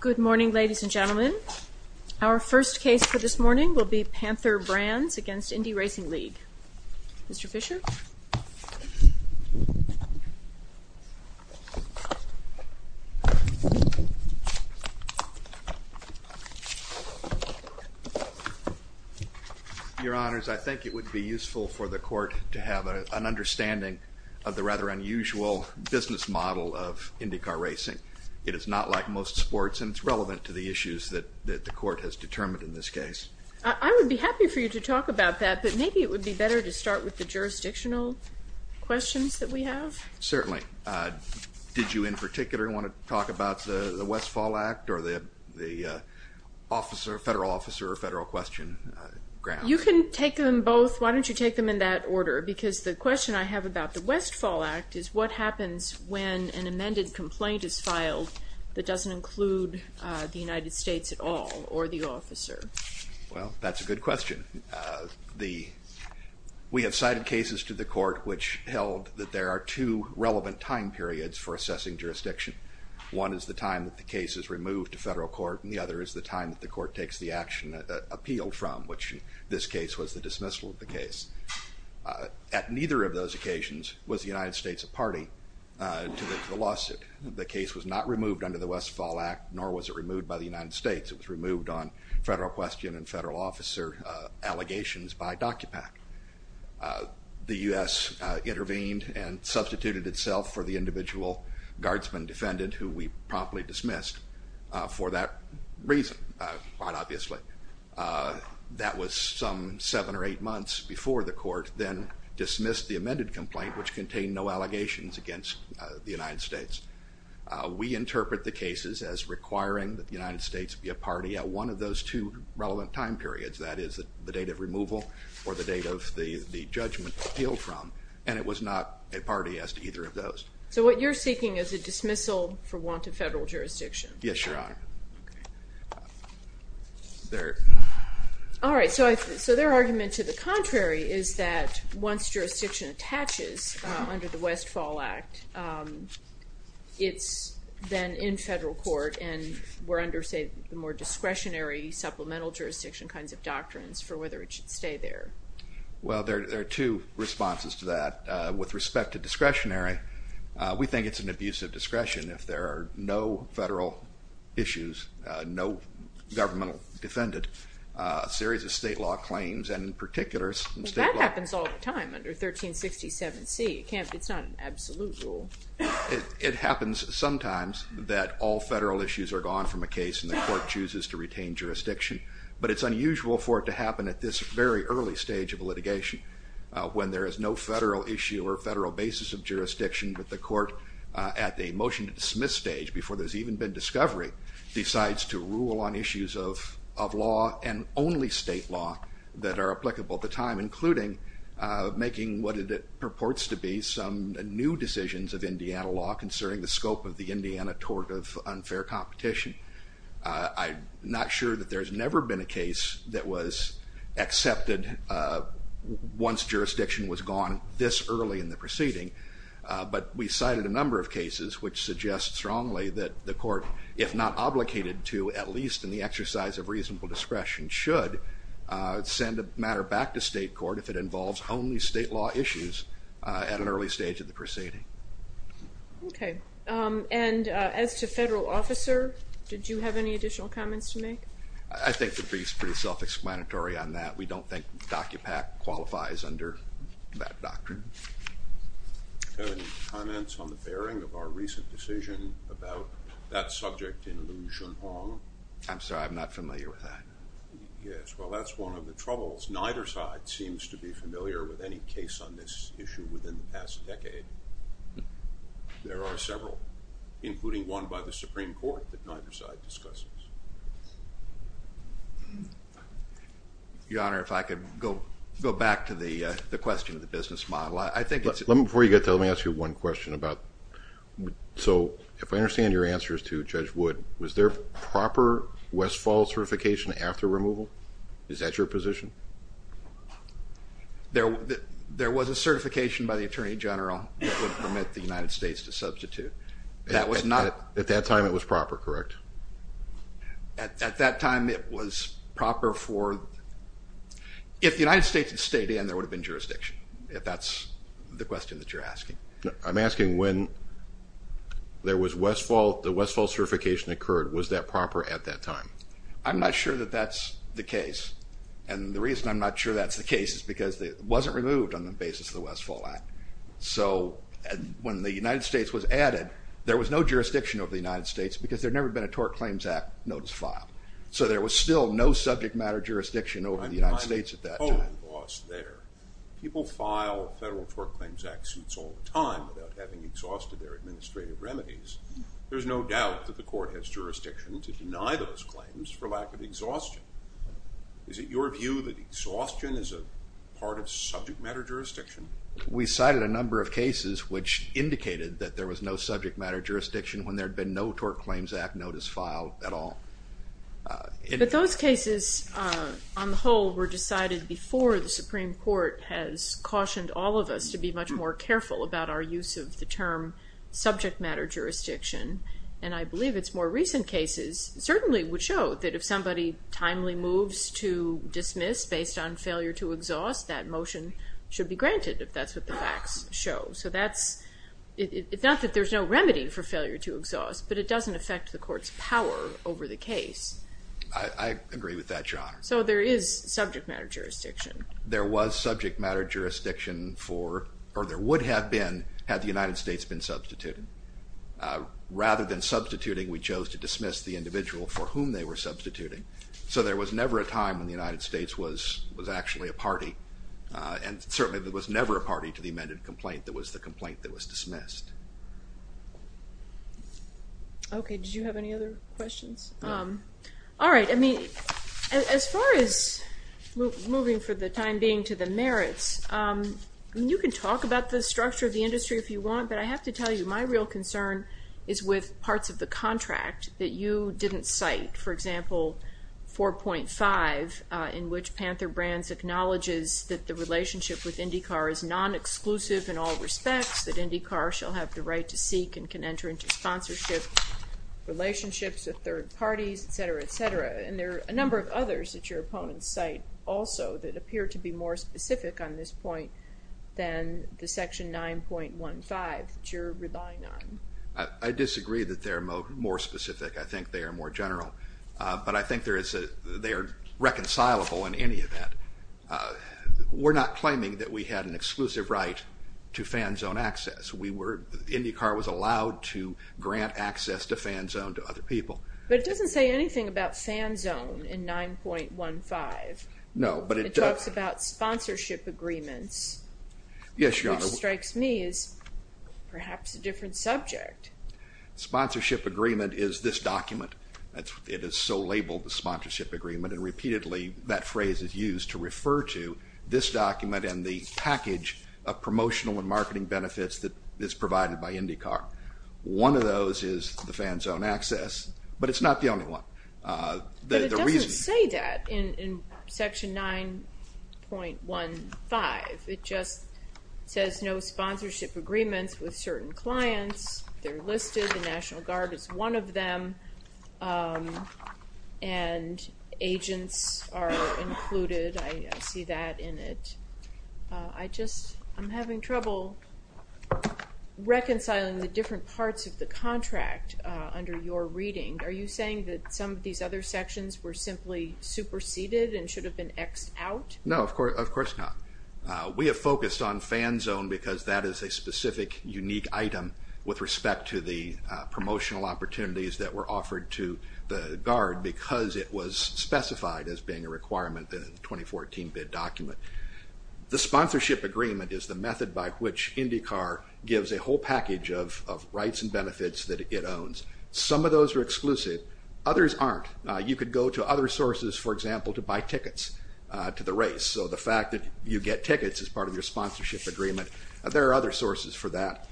Good morning, ladies and gentlemen. Our first case for this morning will be Panther Brands v. Indy Racing League. Mr. Fisher? Your Honors, I think it would be useful for the Court to have an understanding of the rather unusual business model of IndyCar racing. It is not like most sports, and it's relevant to the issues that the Court has determined in this case. I would be happy for you to talk about that, but maybe it would be better to start with the jurisdictional questions that we have. Certainly. Did you in particular want to talk about the Westfall Act or the federal officer or federal question? You can take them both. Why don't you take them in that order? Sure, because the question I have about the Westfall Act is what happens when an amended complaint is filed that doesn't include the United States at all, or the officer? Well, that's a good question. We have cited cases to the Court which held that there are two relevant time periods for assessing jurisdiction. One is the time that the case is removed to federal court, and the other is the time that the Court takes the action appealed from, which in this case was the dismissal of the case. At neither of those occasions was the United States a party to the lawsuit. The case was not removed under the Westfall Act, nor was it removed by the United States. It was removed on federal question and federal officer allegations by DOCUPAC. The U.S. intervened and substituted itself for the individual guardsman defendant who we promptly dismissed for that reason, quite obviously. That was some seven or eight months before the Court then dismissed the amended complaint, which contained no allegations against the United States. We interpret the cases as requiring that the United States be a party at one of those two relevant time periods. That is, the date of removal or the date of the judgment appealed from, and it was not a party as to either of those. So what you're seeking is a dismissal for want of federal jurisdiction? Yes, Your Honor. All right, so their argument to the contrary is that once jurisdiction attaches under the Westfall Act, it's then in federal court and we're under, say, the more discretionary supplemental jurisdiction kinds of doctrines for whether it should stay there. Well, there are two responses to that. With respect to discretionary, we think it's an abuse of discretion if there are no federal issues, no governmental defendant, a series of state law claims, and in particular state law. Well, that happens all the time under 1367C. It's not an absolute rule. It happens sometimes that all federal issues are gone from a case and the Court chooses to retain jurisdiction, but it's unusual for it to happen at this very early stage of litigation, when there is no federal issue or federal basis of jurisdiction, but the Court at the motion to dismiss stage, before there's even been discovery, decides to rule on issues of law and only state law that are applicable at the time, including making what it purports to be some new decisions of Indiana law concerning the scope of the Indiana tort of unfair competition. I'm not sure that there's never been a case that was accepted once jurisdiction was gone this early in the proceeding, but we cited a number of cases which suggest strongly that the Court, if not obligated to at least in the exercise of reasonable discretion, should send a matter back to state court if it involves only state law issues at an early stage of the proceeding. Okay, and as to federal officer, did you have any additional comments to make? I think the brief's pretty self-explanatory on that. We don't think DOCUPAC qualifies under that doctrine. Any comments on the bearing of our recent decision about that subject in Liu Junhong? I'm sorry, I'm not familiar with that. Yes, well, that's one of the troubles. Neither side seems to be familiar with any case on this issue within the past decade. There are several, including one by the Supreme Court that neither side discusses. Your Honor, if I could go back to the question of the business model. Before you get to it, let me ask you one question. So if I understand your answers to Judge Wood, was there proper West Falls certification after removal? Is that your position? There was a certification by the Attorney General that would permit the United States to substitute. At that time it was proper, correct? At that time it was proper for, if the United States had stayed in, there would have been jurisdiction, if that's the question that you're asking. I'm asking when there was West Falls, the West Falls certification occurred, was that proper at that time? I'm not sure that that's the case. And the reason I'm not sure that's the case is because it wasn't removed on the basis of the West Falls Act. So when the United States was added, there was no jurisdiction over the United States because there had never been a Tort Claims Act notice filed. So there was still no subject matter jurisdiction over the United States at that time. People file federal Tort Claims Act suits all the time without having exhausted their administrative remedies. There's no doubt that the Court has jurisdiction to deny those claims for lack of exhaustion. Is it your view that exhaustion is a part of subject matter jurisdiction? We cited a number of cases which indicated that there was no subject matter jurisdiction when there had been no Tort Claims Act notice filed at all. But those cases on the whole were decided before the Supreme Court has cautioned all of us to be much more careful about our use of the term subject matter jurisdiction. And I believe it's more recent cases certainly would show that if somebody timely moves to dismiss based on failure to exhaust, that motion should be granted if that's what the facts show. So that's, it's not that there's no remedy for failure to exhaust, but it doesn't affect the Court's power over the case. I agree with that, Your Honor. So there is subject matter jurisdiction. There was subject matter jurisdiction for, or there would have been had the United States been substituted. Rather than substituting, we chose to dismiss the individual for whom they were substituting. So there was never a time when the United States was actually a party, and certainly there was never a party to the amended complaint that was the complaint that was dismissed. Okay, did you have any other questions? All right, I mean, as far as moving for the time being to the merits, you can talk about the structure of the industry if you want, but I have to tell you my real concern is with parts of the contract that you didn't cite. For example, 4.5 in which Panther Brands acknowledges that the relationship with IndyCar is nonexclusive in all respects, that IndyCar shall have the right to seek and can enter into sponsorship relationships with third parties, et cetera, et cetera. And there are a number of others that your opponents cite also that appear to be more specific on this point than the Section 9.15 that you're relying on. I disagree that they're more specific. I think they are more general, but I think they are reconcilable in any event. We're not claiming that we had an exclusive right to fan zone access. IndyCar was allowed to grant access to fan zone to other people. But it doesn't say anything about fan zone in 9.15. No, but it does. It talks about sponsorship agreements. Yes, Your Honor. Which strikes me as perhaps a different subject. Sponsorship agreement is this document. It is so labeled the sponsorship agreement, and repeatedly that phrase is used to refer to this document and the package of promotional and marketing benefits that is provided by IndyCar. One of those is the fan zone access, but it's not the only one. But it doesn't say that in Section 9.15. It just says no sponsorship agreements with certain clients. They're listed. The National Guard is one of them, and agents are included. I see that in it. I just am having trouble reconciling the different parts of the contract under your reading. Are you saying that some of these other sections were simply superseded and should have been X'd out? No, of course not. We have focused on fan zone because that is a specific, unique item with respect to the promotional opportunities that were offered to the Guard because it was specified as being a requirement in the 2014 bid document. The sponsorship agreement is the method by which IndyCar gives a whole package of rights and benefits that it owns. Some of those are exclusive. Others aren't. You could go to other sources, for example, to buy tickets to the race. So the fact that you get tickets as part of your sponsorship agreement, there are other sources for that.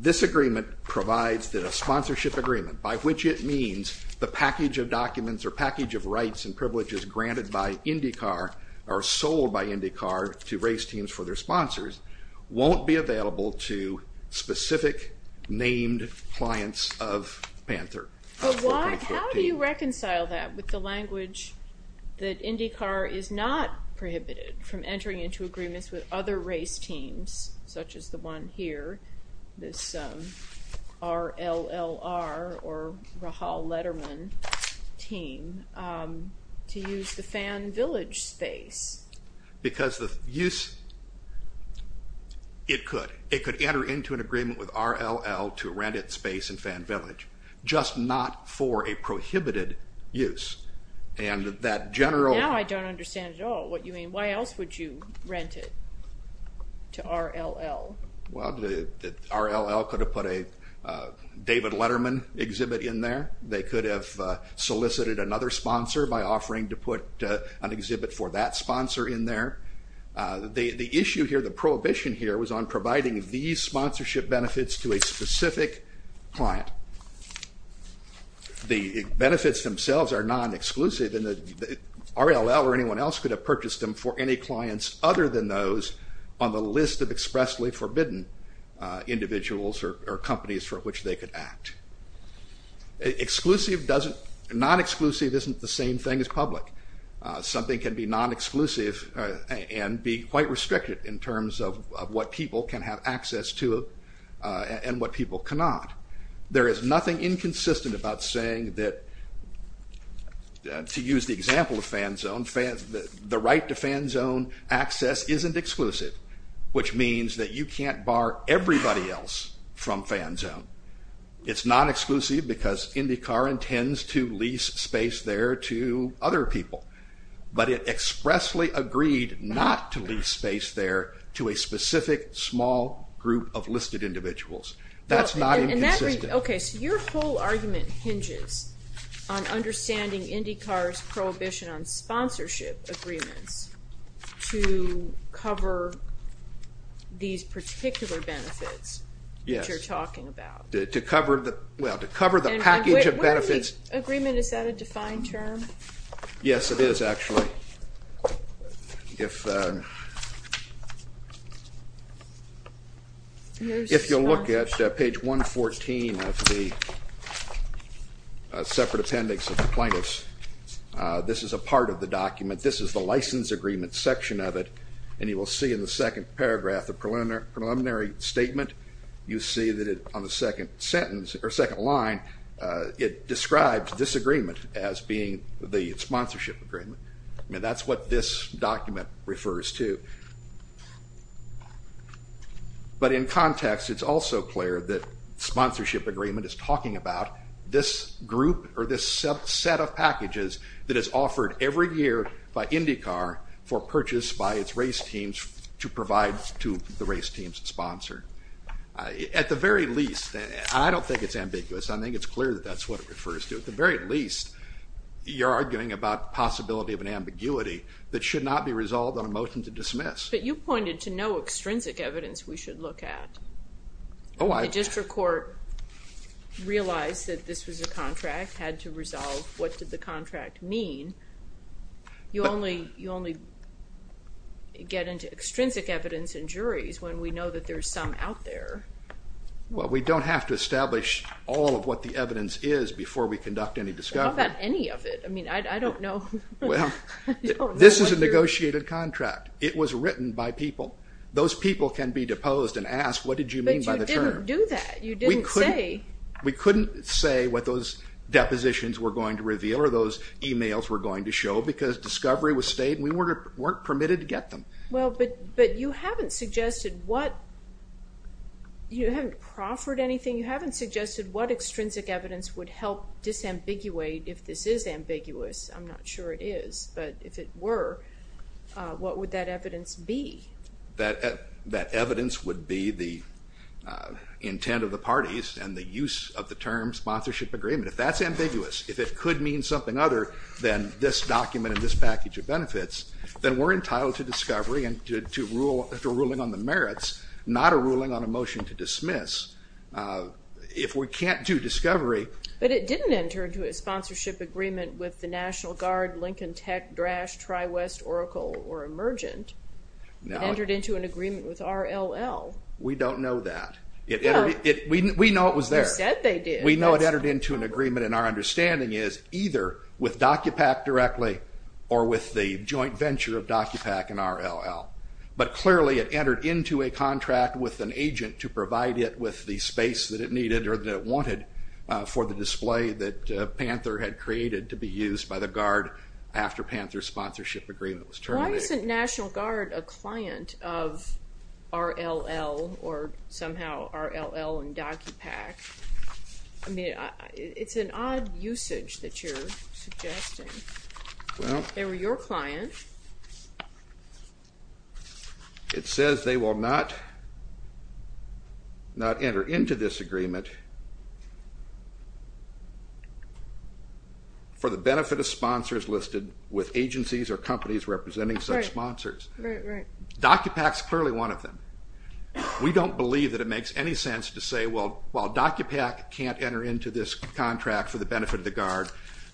This agreement provides that a sponsorship agreement, by which it means the package of documents or package of rights and privileges granted by IndyCar or sold by IndyCar to race teams for their sponsors, won't be available to specific named clients of Panther. But how do you reconcile that with the language that IndyCar is not prohibited from entering into agreements with other race teams, such as the one here, this R-L-L-R or Rahal Letterman team, to use the Fan Village space? Because the use, it could. It could enter into an agreement with R-L-L to rent its space in Fan Village, just not for a prohibited use. Now I don't understand at all what you mean. Why else would you rent it to R-L-L? Well, R-L-L could have put a David Letterman exhibit in there. They could have solicited another sponsor by offering to put an exhibit for that sponsor in there. The issue here, the prohibition here, was on providing these sponsorship benefits to a specific client. The benefits themselves are non-exclusive and R-L-L or anyone else could have purchased them for any clients other than those on the list of expressly forbidden individuals or companies for which they could act. Exclusive doesn't, non-exclusive isn't the same thing as public. Something can be non-exclusive and be quite restricted in terms of what people can have access to and what people cannot. There is nothing inconsistent about saying that, to use the example of Fan Zone, the right to Fan Zone access isn't exclusive, which means that you can't bar everybody else from Fan Zone. It's non-exclusive because IndyCar intends to lease space there to other people, but it expressly agreed not to lease space there to a specific small group of listed individuals. That's not inconsistent. Okay, so your whole argument hinges on understanding IndyCar's prohibition on sponsorship agreements to cover these particular benefits that you're talking about. To cover the package of benefits. Agreement, is that a defined term? Yes, it is actually. If you'll look at page 114 of the separate appendix of the plaintiffs, this is a part of the document. This is the license agreement section of it, and you will see in the second paragraph the preliminary statement. You see that on the second sentence, or second line, it describes this agreement as being the sponsorship agreement. That's what this document refers to. But in context, it's also clear that sponsorship agreement is talking about this group or this set of packages that is offered every year by IndyCar for purchase by its race teams to provide to the race team's sponsor. At the very least, I don't think it's ambiguous. I think it's clear that that's what it refers to. At the very least, you're arguing about possibility of an ambiguity that should not be resolved on a motion to dismiss. But you pointed to no extrinsic evidence we should look at. The district court realized that this was a contract, had to resolve what did the contract mean. You only get into extrinsic evidence in juries when we know that there's some out there. Well, we don't have to establish all of what the evidence is before we conduct any discovery. What about any of it? I mean, I don't know. Well, this is a negotiated contract. It was written by people. Those people can be deposed and asked, what did you mean by the term? But you didn't do that. You didn't say. We couldn't say what those depositions were going to reveal, or those emails were going to show, because discovery was stayed, and we weren't permitted to get them. Well, but you haven't suggested what, you haven't proffered anything. You haven't suggested what extrinsic evidence would help disambiguate if this is ambiguous. I'm not sure it is, but if it were, what would that evidence be? That evidence would be the intent of the parties and the use of the term sponsorship agreement. If that's ambiguous, if it could mean something other than this document and this package of benefits, then we're entitled to discovery and to a ruling on the merits, not a ruling on a motion to dismiss. If we can't do discovery. But it didn't enter into a sponsorship agreement with the National Guard, Lincoln Tech, Drash, TriWest, Oracle, or Emergent. It entered into an agreement with RLL. We don't know that. We know it was there. You said they did. We know it entered into an agreement, and our understanding is, either with DocuPack directly or with the joint venture of DocuPack and RLL. But clearly it entered into a contract with an agent to provide it with the space that it needed or that it wanted for the display that Panther had created to be used by the Guard after Panther's sponsorship agreement was terminated. Why isn't National Guard a client of RLL or somehow RLL and DocuPack? I mean, it's an odd usage that you're suggesting. They were your client. It says they will not enter into this agreement for the benefit of sponsors listed with agencies or companies representing such sponsors. Right, right. DocuPack's clearly one of them. We don't believe that it makes any sense to say, well, while DocuPack can't enter into this contract for the benefit of the Guard,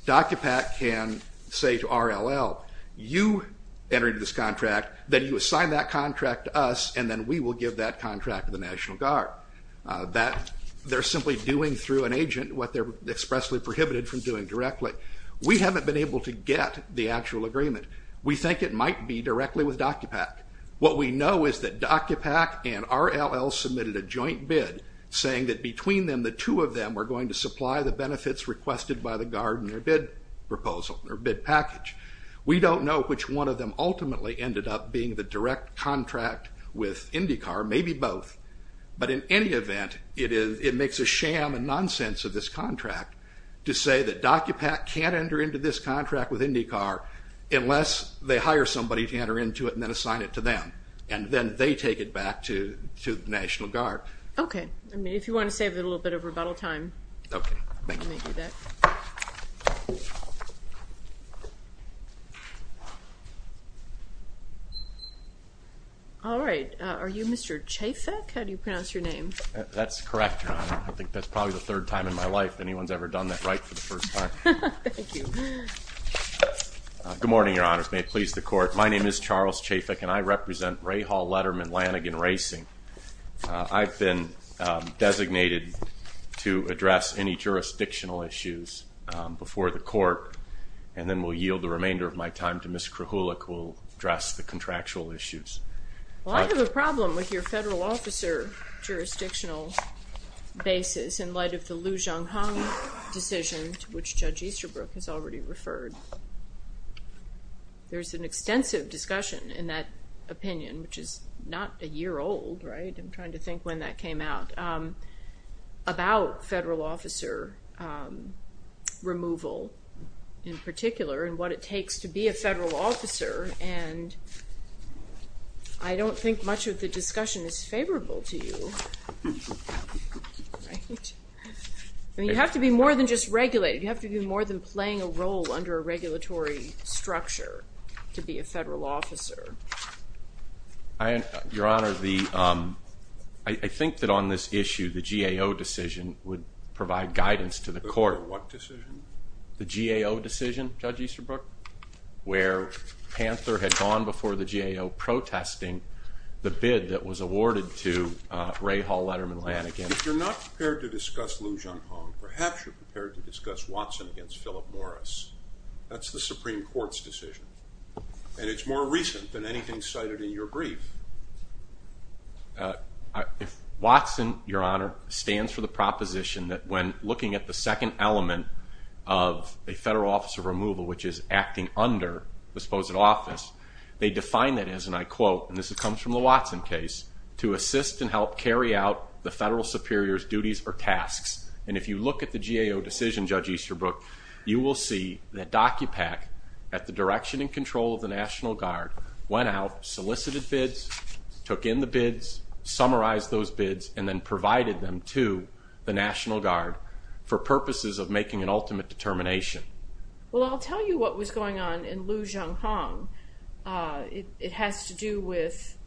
DocuPack can say to RLL, you entered into this contract, then you assign that contract to us, and then we will give that contract to the National Guard. They're simply doing through an agent what they're expressly prohibited from doing directly. We haven't been able to get the actual agreement. We think it might be directly with DocuPack. What we know is that DocuPack and RLL submitted a joint bid saying that between them, the two of them were going to supply the benefits requested by the Guard in their bid proposal or bid package. We don't know which one of them ultimately ended up being the direct contract with IndyCar, maybe both, but in any event, it makes a sham and nonsense of this contract to say that DocuPack can't enter into this contract with IndyCar unless they hire somebody to enter into it and then assign it to them, and then they take it back to the National Guard. Okay. If you want to save a little bit of rebuttal time. Okay. All right. Are you Mr. Chafek? How do you pronounce your name? That's correct, Your Honor. I think that's probably the third time in my life anyone's ever done that right for the first time. Thank you. Good morning, Your Honors. May it please the Court. My name is Charles Chafek, and I represent Rahal Letterman Lanigan Racing. I've been designated to address any jurisdictional issues before the Court, and then will yield the remainder of my time to Ms. Krahulik, who will address the contractual issues. Well, I have a problem with your federal officer jurisdictional basis in light of the Liu Zhonghong decision, which Judge Easterbrook has already referred. There's an extensive discussion in that opinion, which is not a year old, right? I'm trying to think when that came out, about federal officer removal in particular and what it takes to be a federal officer, and I don't think much of the discussion is favorable to you. You have to be more than just regulated. You have to be more than playing a role under a regulatory structure to be a federal officer. Your Honor, I think that on this issue, the GAO decision would provide guidance to the Court. What decision? The GAO decision, Judge Easterbrook, where Panther had gone before the GAO protesting the bid that was awarded to Rahal Letterman-Lanigan. If you're not prepared to discuss Liu Zhonghong, perhaps you're prepared to discuss Watson against Philip Morris. That's the Supreme Court's decision, and it's more recent than anything cited in your brief. If Watson, Your Honor, stands for the proposition that when looking at the second element of a federal officer removal, which is acting under the supposed office, they define that as, and I quote, and this comes from the Watson case, to assist and help carry out the federal superior's duties or tasks. And if you look at the GAO decision, Judge Easterbrook, you will see that DOCUPAC, at the direction and control of the National Guard, went out, solicited bids, took in the bids, summarized those bids, and then provided them to the National Guard for purposes of making an ultimate determination. Well, I'll tell you what was going on in Liu Zhonghong. It has to do with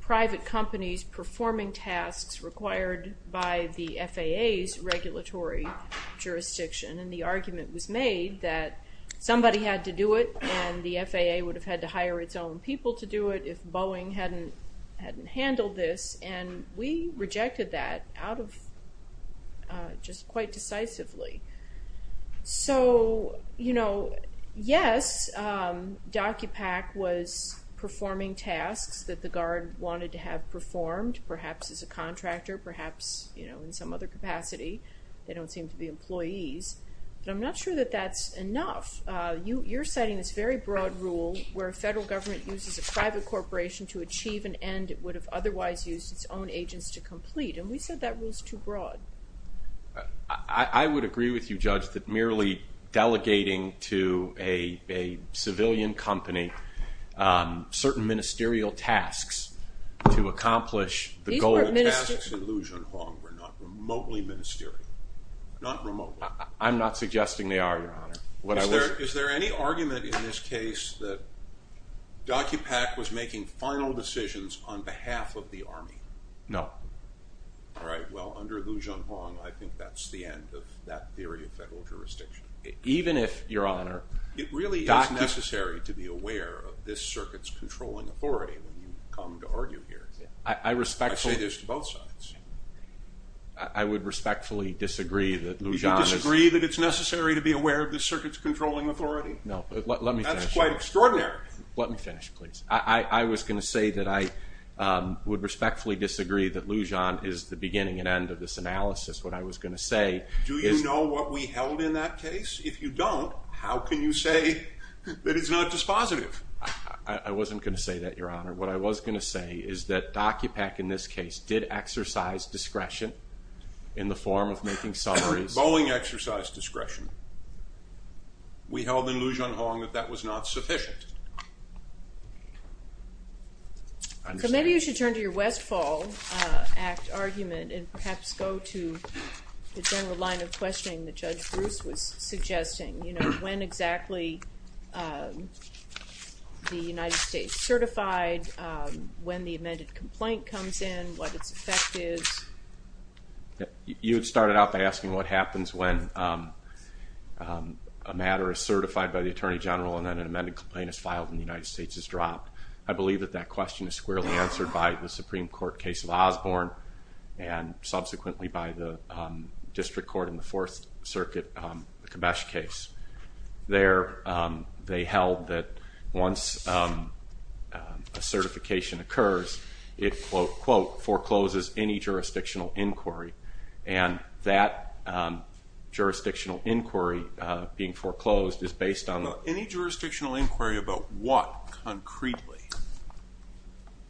private companies performing tasks required by the FAA's regulatory jurisdiction, and the argument was made that somebody had to do it, and the FAA would have had to hire its own people to do it if Boeing hadn't handled this. And we rejected that out of just quite decisively. So, you know, yes, DOCUPAC was performing tasks that the Guard wanted to have performed, perhaps as a contractor, perhaps, you know, in some other capacity. They don't seem to be employees. But I'm not sure that that's enough. You're citing this very broad rule where a federal government uses a private corporation to achieve an end that it would have otherwise used its own agents to complete, and we said that rule is too broad. I would agree with you, Judge, that merely delegating to a civilian company certain ministerial tasks to accomplish the goal. These weren't ministerial tasks in Liu Zhonghong. They were not remotely ministerial, not remotely. Is there any argument in this case that DOCUPAC was making final decisions on behalf of the Army? No. All right. Well, under Liu Zhonghong, I think that's the end of that theory of federal jurisdiction. Even if, Your Honor, It really is necessary to be aware of this circuit's controlling authority when you come to argue here. I say this to both sides. I would respectfully disagree that Liu Zhonghong is No. Let me finish. That's quite extraordinary. Let me finish, please. I was going to say that I would respectfully disagree that Liu Zhonghong is the beginning and end of this analysis. What I was going to say is Do you know what we held in that case? If you don't, how can you say that it's not dispositive? I wasn't going to say that, Your Honor. What I was going to say is that DOCUPAC in this case did exercise discretion in the form of making summaries. Bowling exercise discretion. We held in Liu Zhonghong that that was not sufficient. So maybe you should turn to your Westfall Act argument and perhaps go to the general line of questioning that Judge Bruce was suggesting. You know, when exactly the United States certified, when the amended complaint comes in, what its effect is. You had started out by asking what happens when a matter is certified by the attorney general and then an amended complaint is filed and the United States is dropped. I believe that that question is squarely answered by the Supreme Court case of Osborne and subsequently by the district court in the Fourth Circuit, the Kamesh case. They held that once a certification occurs, it, quote, quote, forecloses any jurisdictional inquiry. And that jurisdictional inquiry being foreclosed is based on Any jurisdictional inquiry about what, concretely?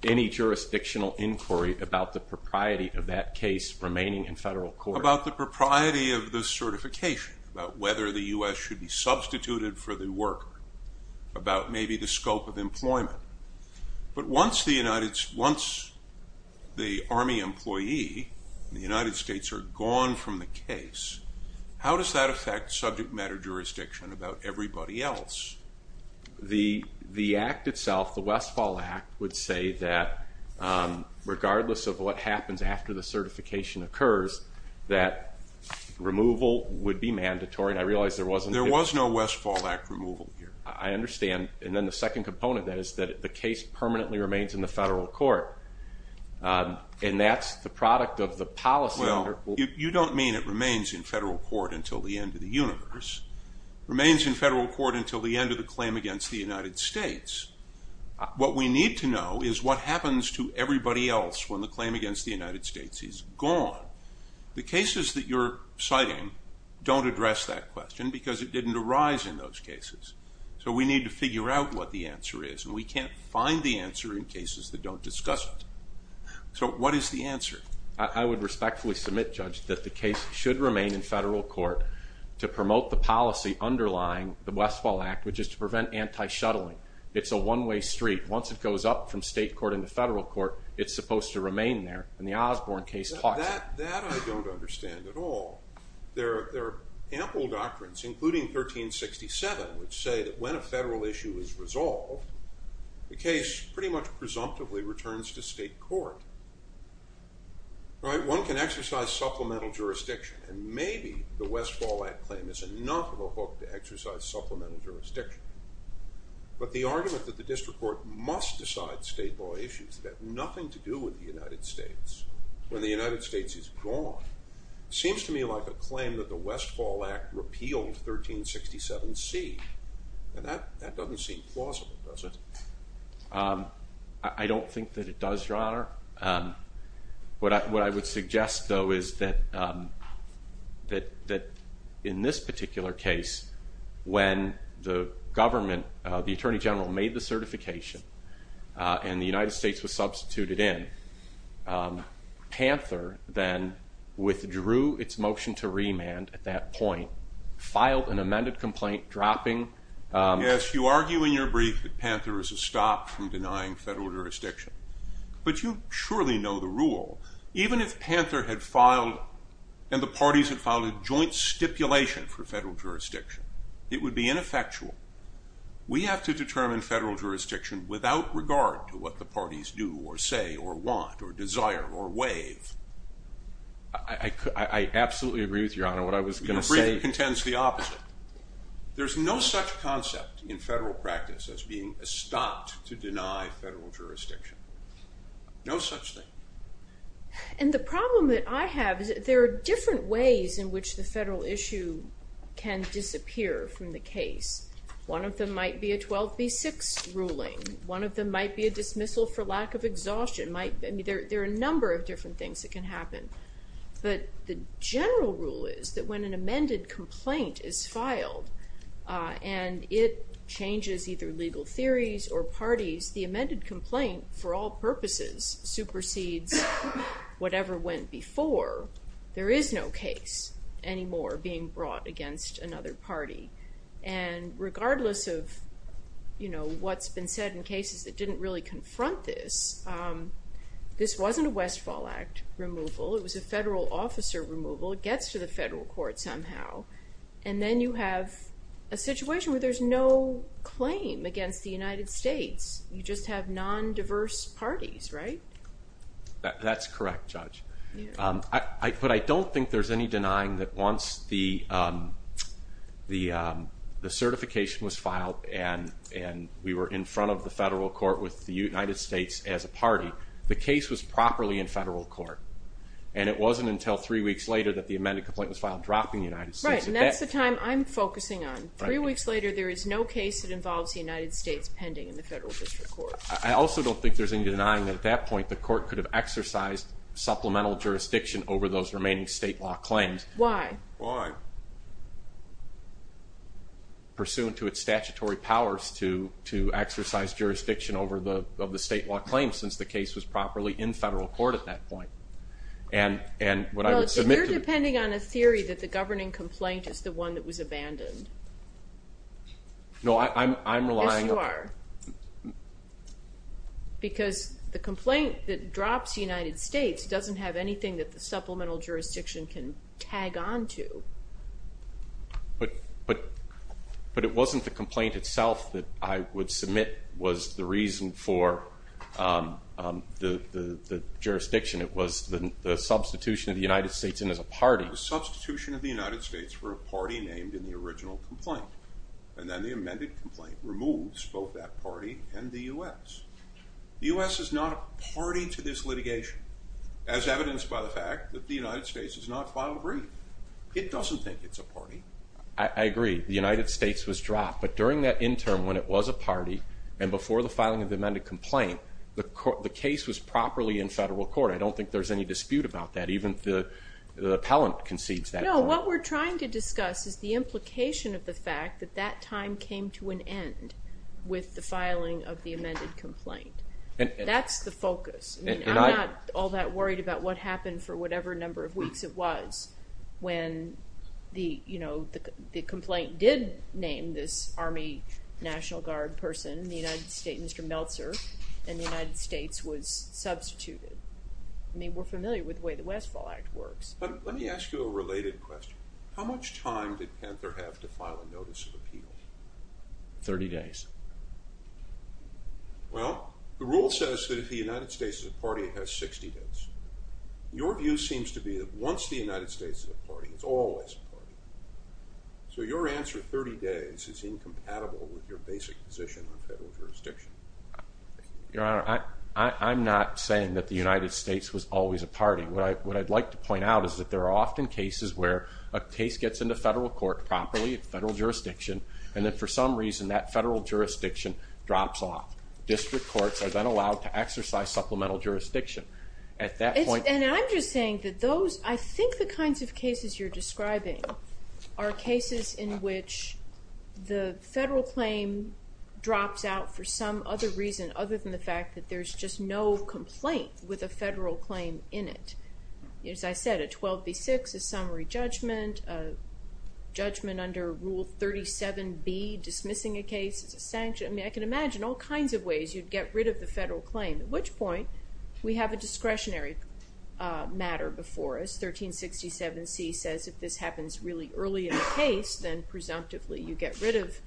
Any jurisdictional inquiry about the propriety of that case remaining in federal court. About the propriety of the certification, about whether the U.S. should be substituted for the worker, about maybe the scope of employment. But once the Army employee and the United States are gone from the case, how does that affect subject matter jurisdiction about everybody else? The act itself, the Westfall Act, would say that regardless of what happens after the certification occurs, that removal would be mandatory. And I realize there wasn't. There was no Westfall Act removal here. I understand. And then the second component is that the case permanently remains in the federal court. And that's the product of the policy. Well, you don't mean it remains in federal court until the end of the universe. It remains in federal court until the end of the claim against the United States. What we need to know is what happens to everybody else when the claim against the United States is gone. The cases that you're citing don't address that question because it didn't arise in those cases. So we need to figure out what the answer is, and we can't find the answer in cases that don't discuss it. So what is the answer? I would respectfully submit, Judge, that the case should remain in federal court to promote the policy underlying the Westfall Act, which is to prevent anti-shuttling. It's a one-way street. Once it goes up from state court into federal court, it's supposed to remain there. And the Osborne case talks about that. That I don't understand at all. There are ample doctrines, including 1367, which say that when a federal issue is resolved, the case pretty much presumptively returns to state court. One can exercise supplemental jurisdiction, and maybe the Westfall Act claim is enough of a hook to exercise supplemental jurisdiction. But the argument that the district court must decide state law issues that have nothing to do with the United States when the United States is gone seems to me like a claim that the Westfall Act repealed 1367C, and that doesn't seem plausible, does it? I don't think that it does, Your Honor. What I would suggest, though, is that in this particular case, when the government, the Attorney General, made the certification and the United States was substituted in, Panther then withdrew its motion to remand at that point, filed an amended complaint dropping Yes, you argue in your brief that Panther is a stop from denying federal jurisdiction. But you surely know the rule. Even if Panther had filed, and the parties had filed a joint stipulation for federal jurisdiction, it would be ineffectual. We have to determine federal jurisdiction without regard to what the parties do or say or want or desire or waive. I absolutely agree with you, Your Honor. Your brief contends the opposite. There's no such concept in federal practice as being a stop to deny federal jurisdiction. No such thing. And the problem that I have is that there are different ways in which the federal issue can disappear from the case. One of them might be a 12B6 ruling. One of them might be a dismissal for lack of exhaustion. There are a number of different things that can happen. But the general rule is that when an amended complaint is filed and it changes either legal theories or parties, the amended complaint, for all purposes, supersedes whatever went before. There is no case anymore being brought against another party. And regardless of, you know, what's been said in cases that didn't really confront this, this wasn't a Westfall Act removal. It was a federal officer removal. It gets to the federal court somehow. And then you have a situation where there's no claim against the United States. You just have non-diverse parties, right? That's correct, Judge. But I don't think there's any denying that once the certification was filed and we were in front of the federal court with the United States as a party, the case was properly in federal court. And it wasn't until three weeks later that the amended complaint was filed, dropping the United States. Right, and that's the time I'm focusing on. Three weeks later, there is no case that involves the United States pending in the federal district court. I also don't think there's any denying that at that point, the court could have exercised supplemental jurisdiction over those remaining state law claims. Why? Pursuant to its statutory powers to exercise jurisdiction over the state law claims since the case was properly in federal court at that point. Well, you're depending on a theory that the governing complaint is the one that was abandoned. No, I'm relying on... Yes, you are. Because the complaint that drops the United States doesn't have anything that the supplemental jurisdiction can tag on to. But it wasn't the complaint itself that I would submit was the reason for the jurisdiction. It was the substitution of the United States in as a party. The substitution of the United States for a party named in the original complaint, and then the amended complaint removes both that party and the U.S. The U.S. is not a party to this litigation, as evidenced by the fact that the United States has not filed a brief. It doesn't think it's a party. I agree. The United States was dropped. But during that interim when it was a party and before the filing of the amended complaint, the case was properly in federal court. I don't think there's any dispute about that. Even the appellant concedes that. No, what we're trying to discuss is the implication of the fact that that time came to an end with the filing of the amended complaint. That's the focus. I'm not all that worried about what happened for whatever number of weeks it was when the complaint did name this Army National Guard person, the United States, Mr. Meltzer, and the United States was substituted. We're familiar with the way the Westfall Act works. Let me ask you a related question. How much time did Panther have to file a notice of appeal? Thirty days. Well, the rule says that if the United States is a party, it has 60 days. Your view seems to be that once the United States is a party, it's always a party. So your answer, 30 days, is incompatible with your basic position on federal jurisdiction. Your Honor, I'm not saying that the United States was always a party. What I'd like to point out is that there are often cases where a case gets into federal court properly, federal jurisdiction, and then for some reason that federal jurisdiction drops off. District courts are then allowed to exercise supplemental jurisdiction. And I'm just saying that those, I think the kinds of cases you're describing, are cases in which the federal claim drops out for some other reason other than the fact that there's just no complaint with a federal claim in it. As I said, a 12B6 is summary judgment, judgment under Rule 37B, dismissing a case. I can imagine all kinds of ways you'd get rid of the federal claim, at which point we have a discretionary matter before us. 1367C says if this happens really early in the case, then presumptively you get rid of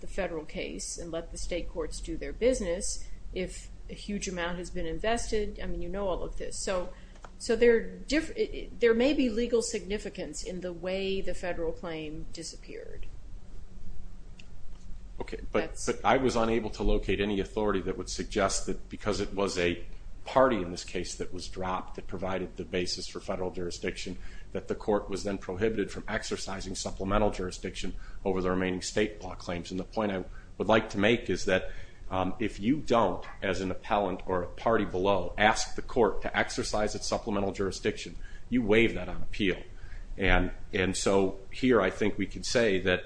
the federal case and let the state courts do their business. If a huge amount has been invested, I mean, you know all of this. So there may be legal significance in the way the federal claim disappeared. Okay, but I was unable to locate any authority that would suggest that because it was a party in this case that was dropped that provided the basis for federal jurisdiction, that the court was then prohibited from exercising supplemental jurisdiction over the remaining state law claims. And the point I would like to make is that if you don't, as an appellant or a party below, ask the court to exercise its supplemental jurisdiction, you waive that on appeal. And so here I think we can say that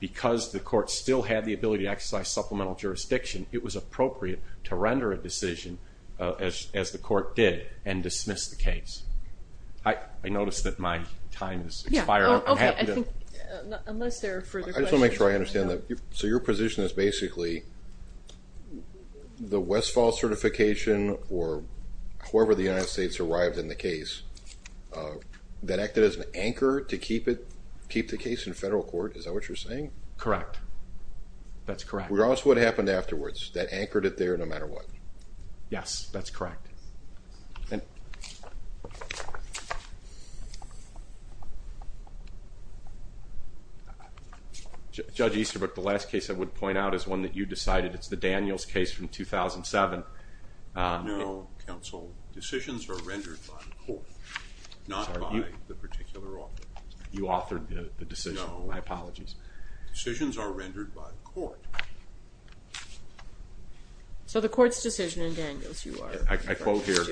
because the court still had the ability to exercise supplemental jurisdiction, it was appropriate to render a decision, as the court did, and dismiss the case. I noticed that my time is expiring. Okay, I think unless there are further questions. I just want to make sure I understand that. So your position is basically the Westfall certification or whoever the United States arrived in the case, that acted as an anchor to keep the case in federal court. Is that what you're saying? Correct. That's correct. We're asking what happened afterwards. That anchored it there no matter what. Yes, that's correct. Judge Easterbrook, the last case I would point out is one that you decided. It's the Daniels case from 2007. No, counsel. Decisions are rendered by the court, not by the particular author. You authored the decision. No. My apologies. Decisions are rendered by the court. So the court's decision in Daniels. I quote here,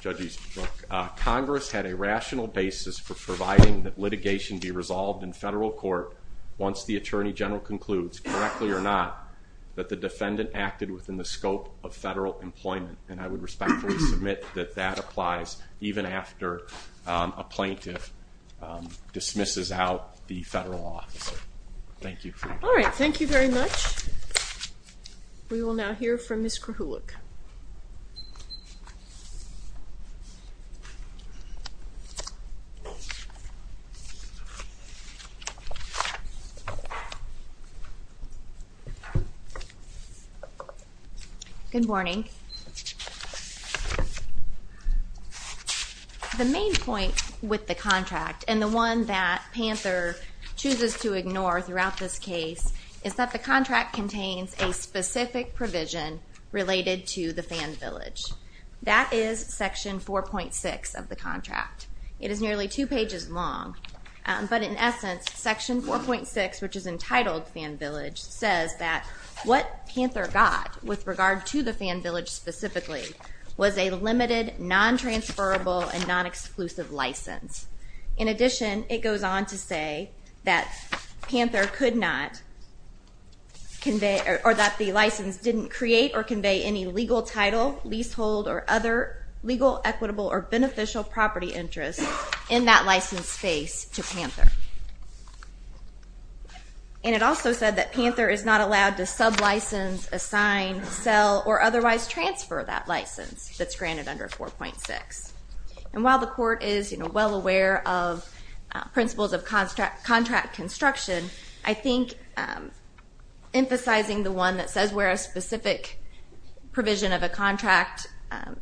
Judge Easterbrook, Congress had a rational basis for providing that litigation be resolved in federal court once the Attorney General concludes, correctly or not, that the defendant acted within the scope of federal employment. And I would respectfully submit that that applies, even after a plaintiff dismisses out the federal office. Thank you. All right. Thank you very much. We will now hear from Ms. Krahulik. Good morning. The main point with the contract, and the one that Panther chooses to ignore throughout this case, is that the contract contains a specific provision related to the Fan Village. That is Section 4.6 of the contract. It is nearly two pages long. But in essence, Section 4.6, which is entitled Fan Village, says that what Panther got, with regard to the Fan Village specifically, was a limited, non-transferable, and non-exclusive license. In addition, it goes on to say that Panther could not convey, or that the license didn't create or convey any legal title, leasehold, or other legal, equitable, or beneficial property interests in that license space to Panther. And it also said that Panther is not allowed to sub-license, assign, sell, or otherwise transfer that license that's granted under 4.6. And while the court is well aware of principles of contract construction, I think emphasizing the one that says where a specific provision of a contract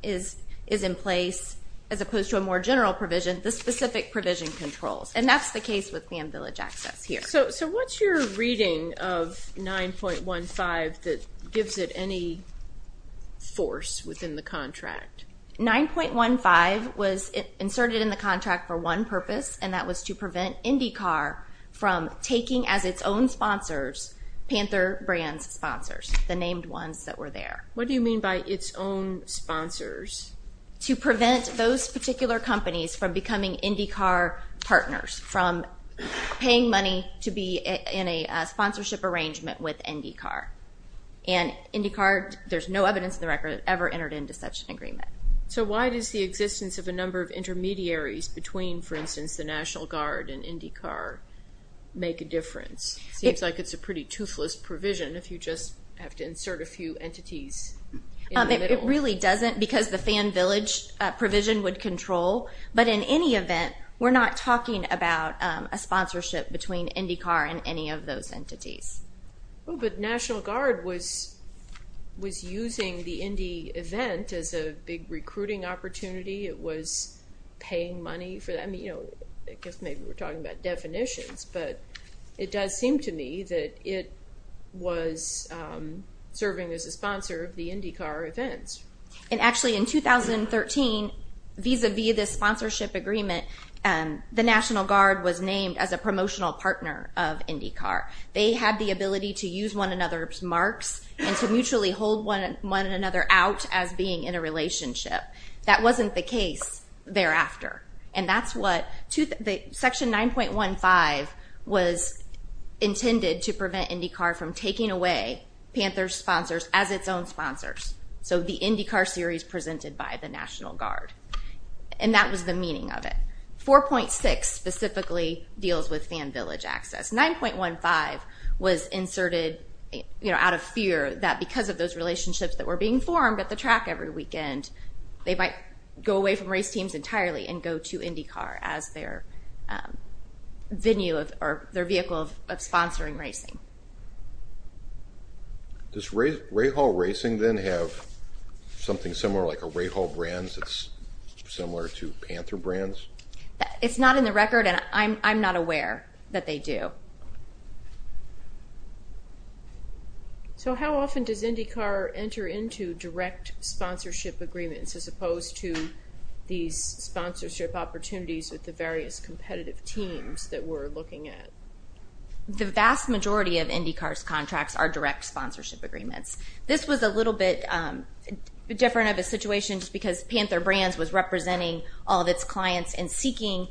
is in place, as opposed to a more general provision, the specific provision controls. And that's the case with Fan Village access here. So what's your reading of 9.15 that gives it any force within the contract? 9.15 was inserted in the contract for one purpose, and that was to prevent IndyCar from taking as its own sponsors, Panther Brand's sponsors, the named ones that were there. What do you mean by its own sponsors? To prevent those particular companies from becoming IndyCar partners, from paying money to be in a sponsorship arrangement with IndyCar. And IndyCar, there's no evidence in the record that it ever entered into such an agreement. So why does the existence of a number of intermediaries between, for instance, the National Guard and IndyCar make a difference? It seems like it's a pretty toothless provision if you just have to insert a few entities. It really doesn't because the Fan Village provision would control. But in any event, we're not talking about a sponsorship between IndyCar and any of those entities. Oh, but National Guard was using the Indy event as a big recruiting opportunity. It was paying money for that. I mean, you know, I guess maybe we're talking about definitions, but it does seem to me that it was serving as a sponsor of the IndyCar events. And actually in 2013, vis-à-vis this sponsorship agreement, the National Guard was named as a promotional partner of IndyCar. They had the ability to use one another's marks and to mutually hold one another out as being in a relationship. That wasn't the case thereafter. And that's what section 9.15 was intended to prevent IndyCar from taking away Panther's sponsors as its own sponsors. So the IndyCar series presented by the National Guard. And that was the meaning of it. 4.6 specifically deals with Fan Village access. 9.15 was inserted out of fear that because of those relationships that were being formed at the track every weekend, they might go away from race teams entirely and go to IndyCar as their venue or their vehicle of sponsoring racing. Does Ray Hall Racing then have something similar like a Ray Hall Brands that's similar to Panther Brands? It's not in the record, and I'm not aware that they do. So how often does IndyCar enter into direct sponsorship agreements as opposed to these sponsorship opportunities with the various competitive teams that we're looking at? The vast majority of IndyCar's contracts are direct sponsorship agreements. This was a little bit different of a situation just because Panther Brands was representing all of its clients and seeking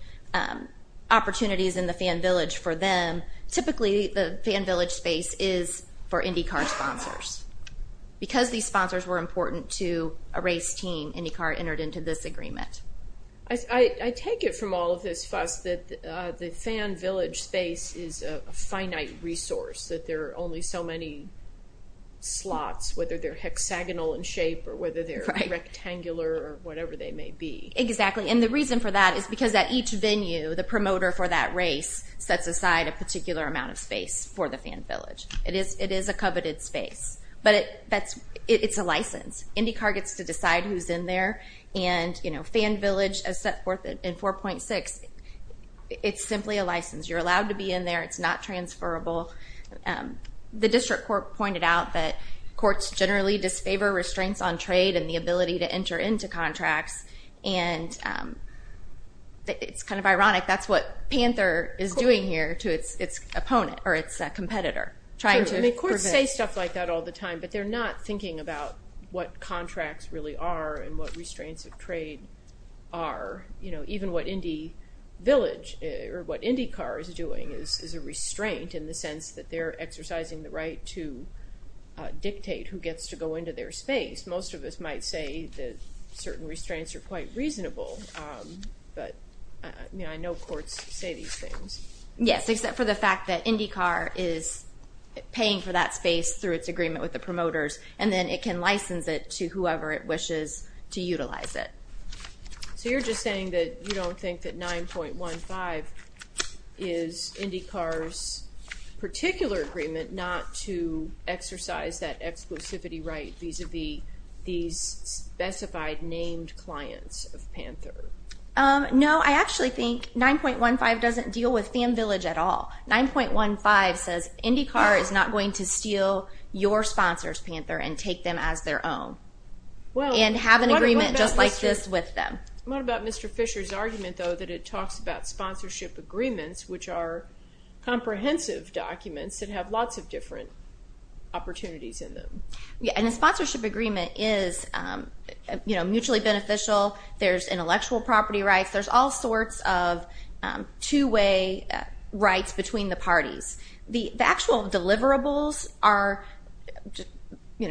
opportunities in the Fan Village for them. Typically, the Fan Village space is for IndyCar sponsors. Because these sponsors were important to a race team, IndyCar entered into this agreement. I take it from all of this fuss that the Fan Village space is a finite resource, that there are only so many slots, whether they're hexagonal in shape or whether they're rectangular or whatever they may be. Exactly, and the reason for that is because at each venue, the promoter for that race sets aside a particular amount of space for the Fan Village. It is a coveted space, but it's a license. IndyCar gets to decide who's in there, and Fan Village, as set forth in 4.6, it's simply a license. You're allowed to be in there. It's not transferable. The district court pointed out that courts generally disfavor restraints on trade and the ability to enter into contracts. It's kind of ironic. That's what Panther is doing here to its opponent or its competitor. Courts say stuff like that all the time, but they're not thinking about what contracts really are and what restraints of trade are. Even what IndyCar is doing is a restraint in the sense that they're exercising the right to dictate who gets to go into their space. Most of us might say that certain restraints are quite reasonable, but I know courts say these things. Yes, except for the fact that IndyCar is paying for that space through its agreement with the promoters, and then it can license it to whoever it wishes to utilize it. So you're just saying that you don't think that 9.15 is IndyCar's particular agreement not to exercise that exclusivity right vis-à-vis these specified named clients of Panther? No, I actually think 9.15 doesn't deal with Fan Village at all. 9.15 says IndyCar is not going to steal your sponsors, Panther, and take them as their own and have an agreement just like this with them. What about Mr. Fisher's argument, though, that it talks about sponsorship agreements, which are comprehensive documents that have lots of different opportunities in them? Yeah, and a sponsorship agreement is mutually beneficial. There's intellectual property rights. There's all sorts of two-way rights between the parties. The actual deliverables are,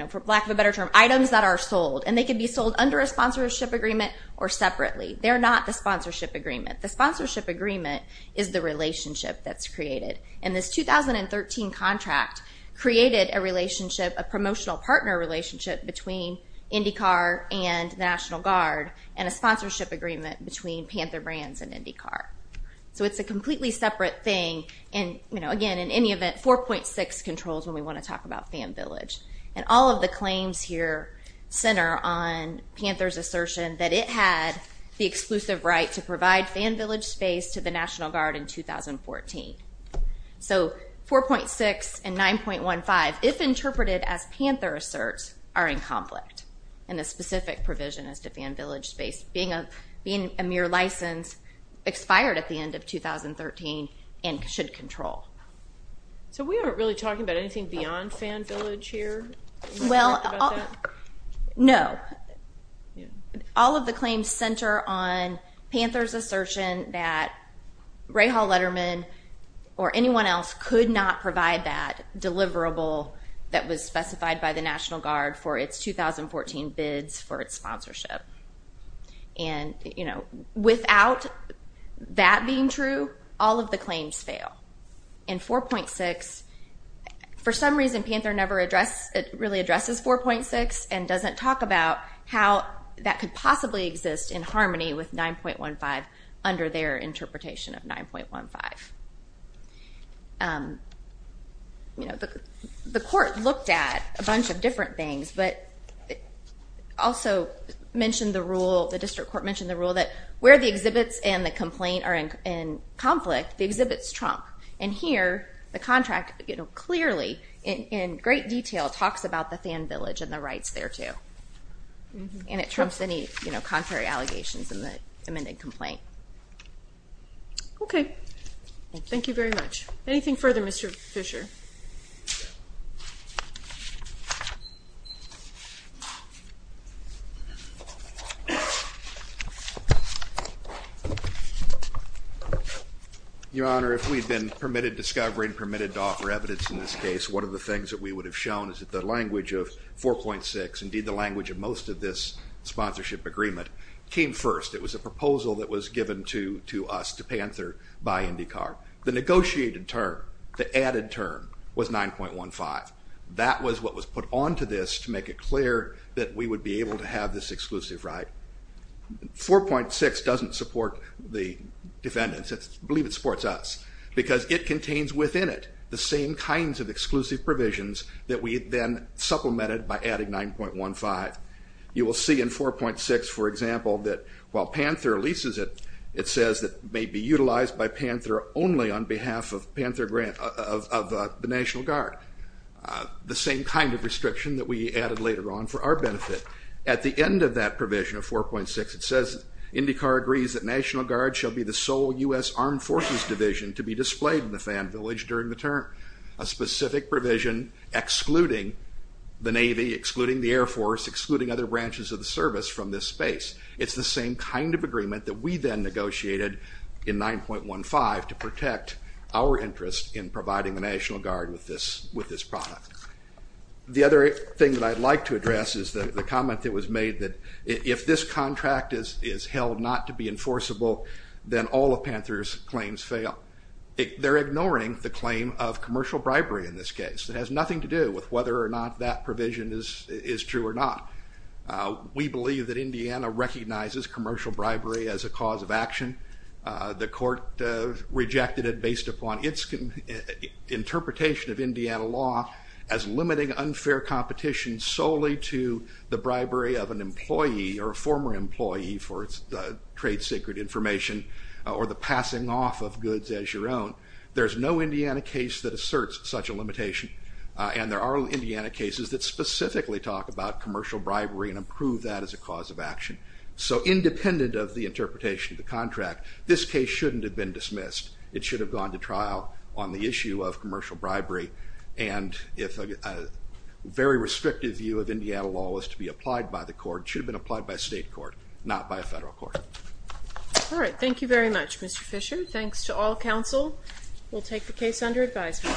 for lack of a better term, items that are sold, and they can be sold under a sponsorship agreement or separately. They're not the sponsorship agreement. The sponsorship agreement is the relationship that's created, and this 2013 contract created a promotional partner relationship between IndyCar and the National Guard and a sponsorship agreement between Panther Brands and IndyCar. So it's a completely separate thing, and again, in any event, 4.6 controls when we want to talk about Fan Village. And all of the claims here center on Panther's assertion that it had the exclusive right to provide Fan Village space to the National Guard in 2014. So 4.6 and 9.15, if interpreted as Panther asserts, are in conflict in the specific provision as to Fan Village space being a mere license, expired at the end of 2013, and should control. So we aren't really talking about anything beyond Fan Village here? Well, no. All of the claims center on Panther's assertion that Rahal Letterman or anyone else could not provide that deliverable that was specified by the National Guard for its 2014 bids for its sponsorship. And without that being true, all of the claims fail. And 4.6, for some reason, Panther never really addresses 4.6 and doesn't talk about how that could possibly exist in harmony with 9.15 under their interpretation of 9.15. The court looked at a bunch of different things, but also mentioned the rule, the district court mentioned the rule that where the exhibits and the complaint are in conflict, the exhibits trump. And here, the contract clearly, in great detail, talks about the Fan Village and the rights thereto. And it trumps any contrary allegations in the amended complaint. Okay. Thank you very much. Anything further, Mr. Fisher? Your Honor, if we'd been permitted discovery and permitted to offer evidence in this case, one of the things that we would have shown is that the language of 4.6, indeed the language of most of this sponsorship agreement, came first. It was a proposal that was given to us, to Panther, by IndyCar. The negotiated term, the added term, was 9.15. That was what was put onto this to make it clear that we would be able to have this exclusive right. 4.6 doesn't support the defendants, I believe it supports us, because it contains within it the same kinds of exclusive provisions that we then supplemented by adding 9.15. You will see in 4.6, for example, that while Panther leases it, it says it may be utilized by Panther only on behalf of the National Guard. The same kind of restriction that we added later on for our benefit. At the end of that provision of 4.6, it says IndyCar agrees that National Guard shall be the sole U.S. Armed Forces division to be displayed in the Fan Village during the term. A specific provision excluding the Navy, excluding the Air Force, excluding other branches of the service from this space. It's the same kind of agreement that we then negotiated in 9.15 to protect our interest in providing the National Guard with this product. The other thing that I'd like to address is the comment that was made that if this contract is held not to be enforceable, then all of Panther's claims fail. They're ignoring the claim of commercial bribery in this case. It has nothing to do with whether or not that provision is true or not. We believe that Indiana recognizes commercial bribery as a cause of action. The court rejected it based upon its interpretation of Indiana law as limiting unfair competition solely to the bribery of an employee or a former employee for its trade secret information or the passing off of goods as your own. There's no Indiana case that asserts such a limitation, and there are Indiana cases that specifically talk about commercial bribery and approve that as a cause of action. So independent of the interpretation of the contract, this case shouldn't have been dismissed. It should have gone to trial on the issue of commercial bribery, and if a very restrictive view of Indiana law was to be applied by the court, it should have been applied by a state court, not by a federal court. All right. Thank you very much, Mr. Fisher. Thanks to all counsel. We'll take the case under advisement.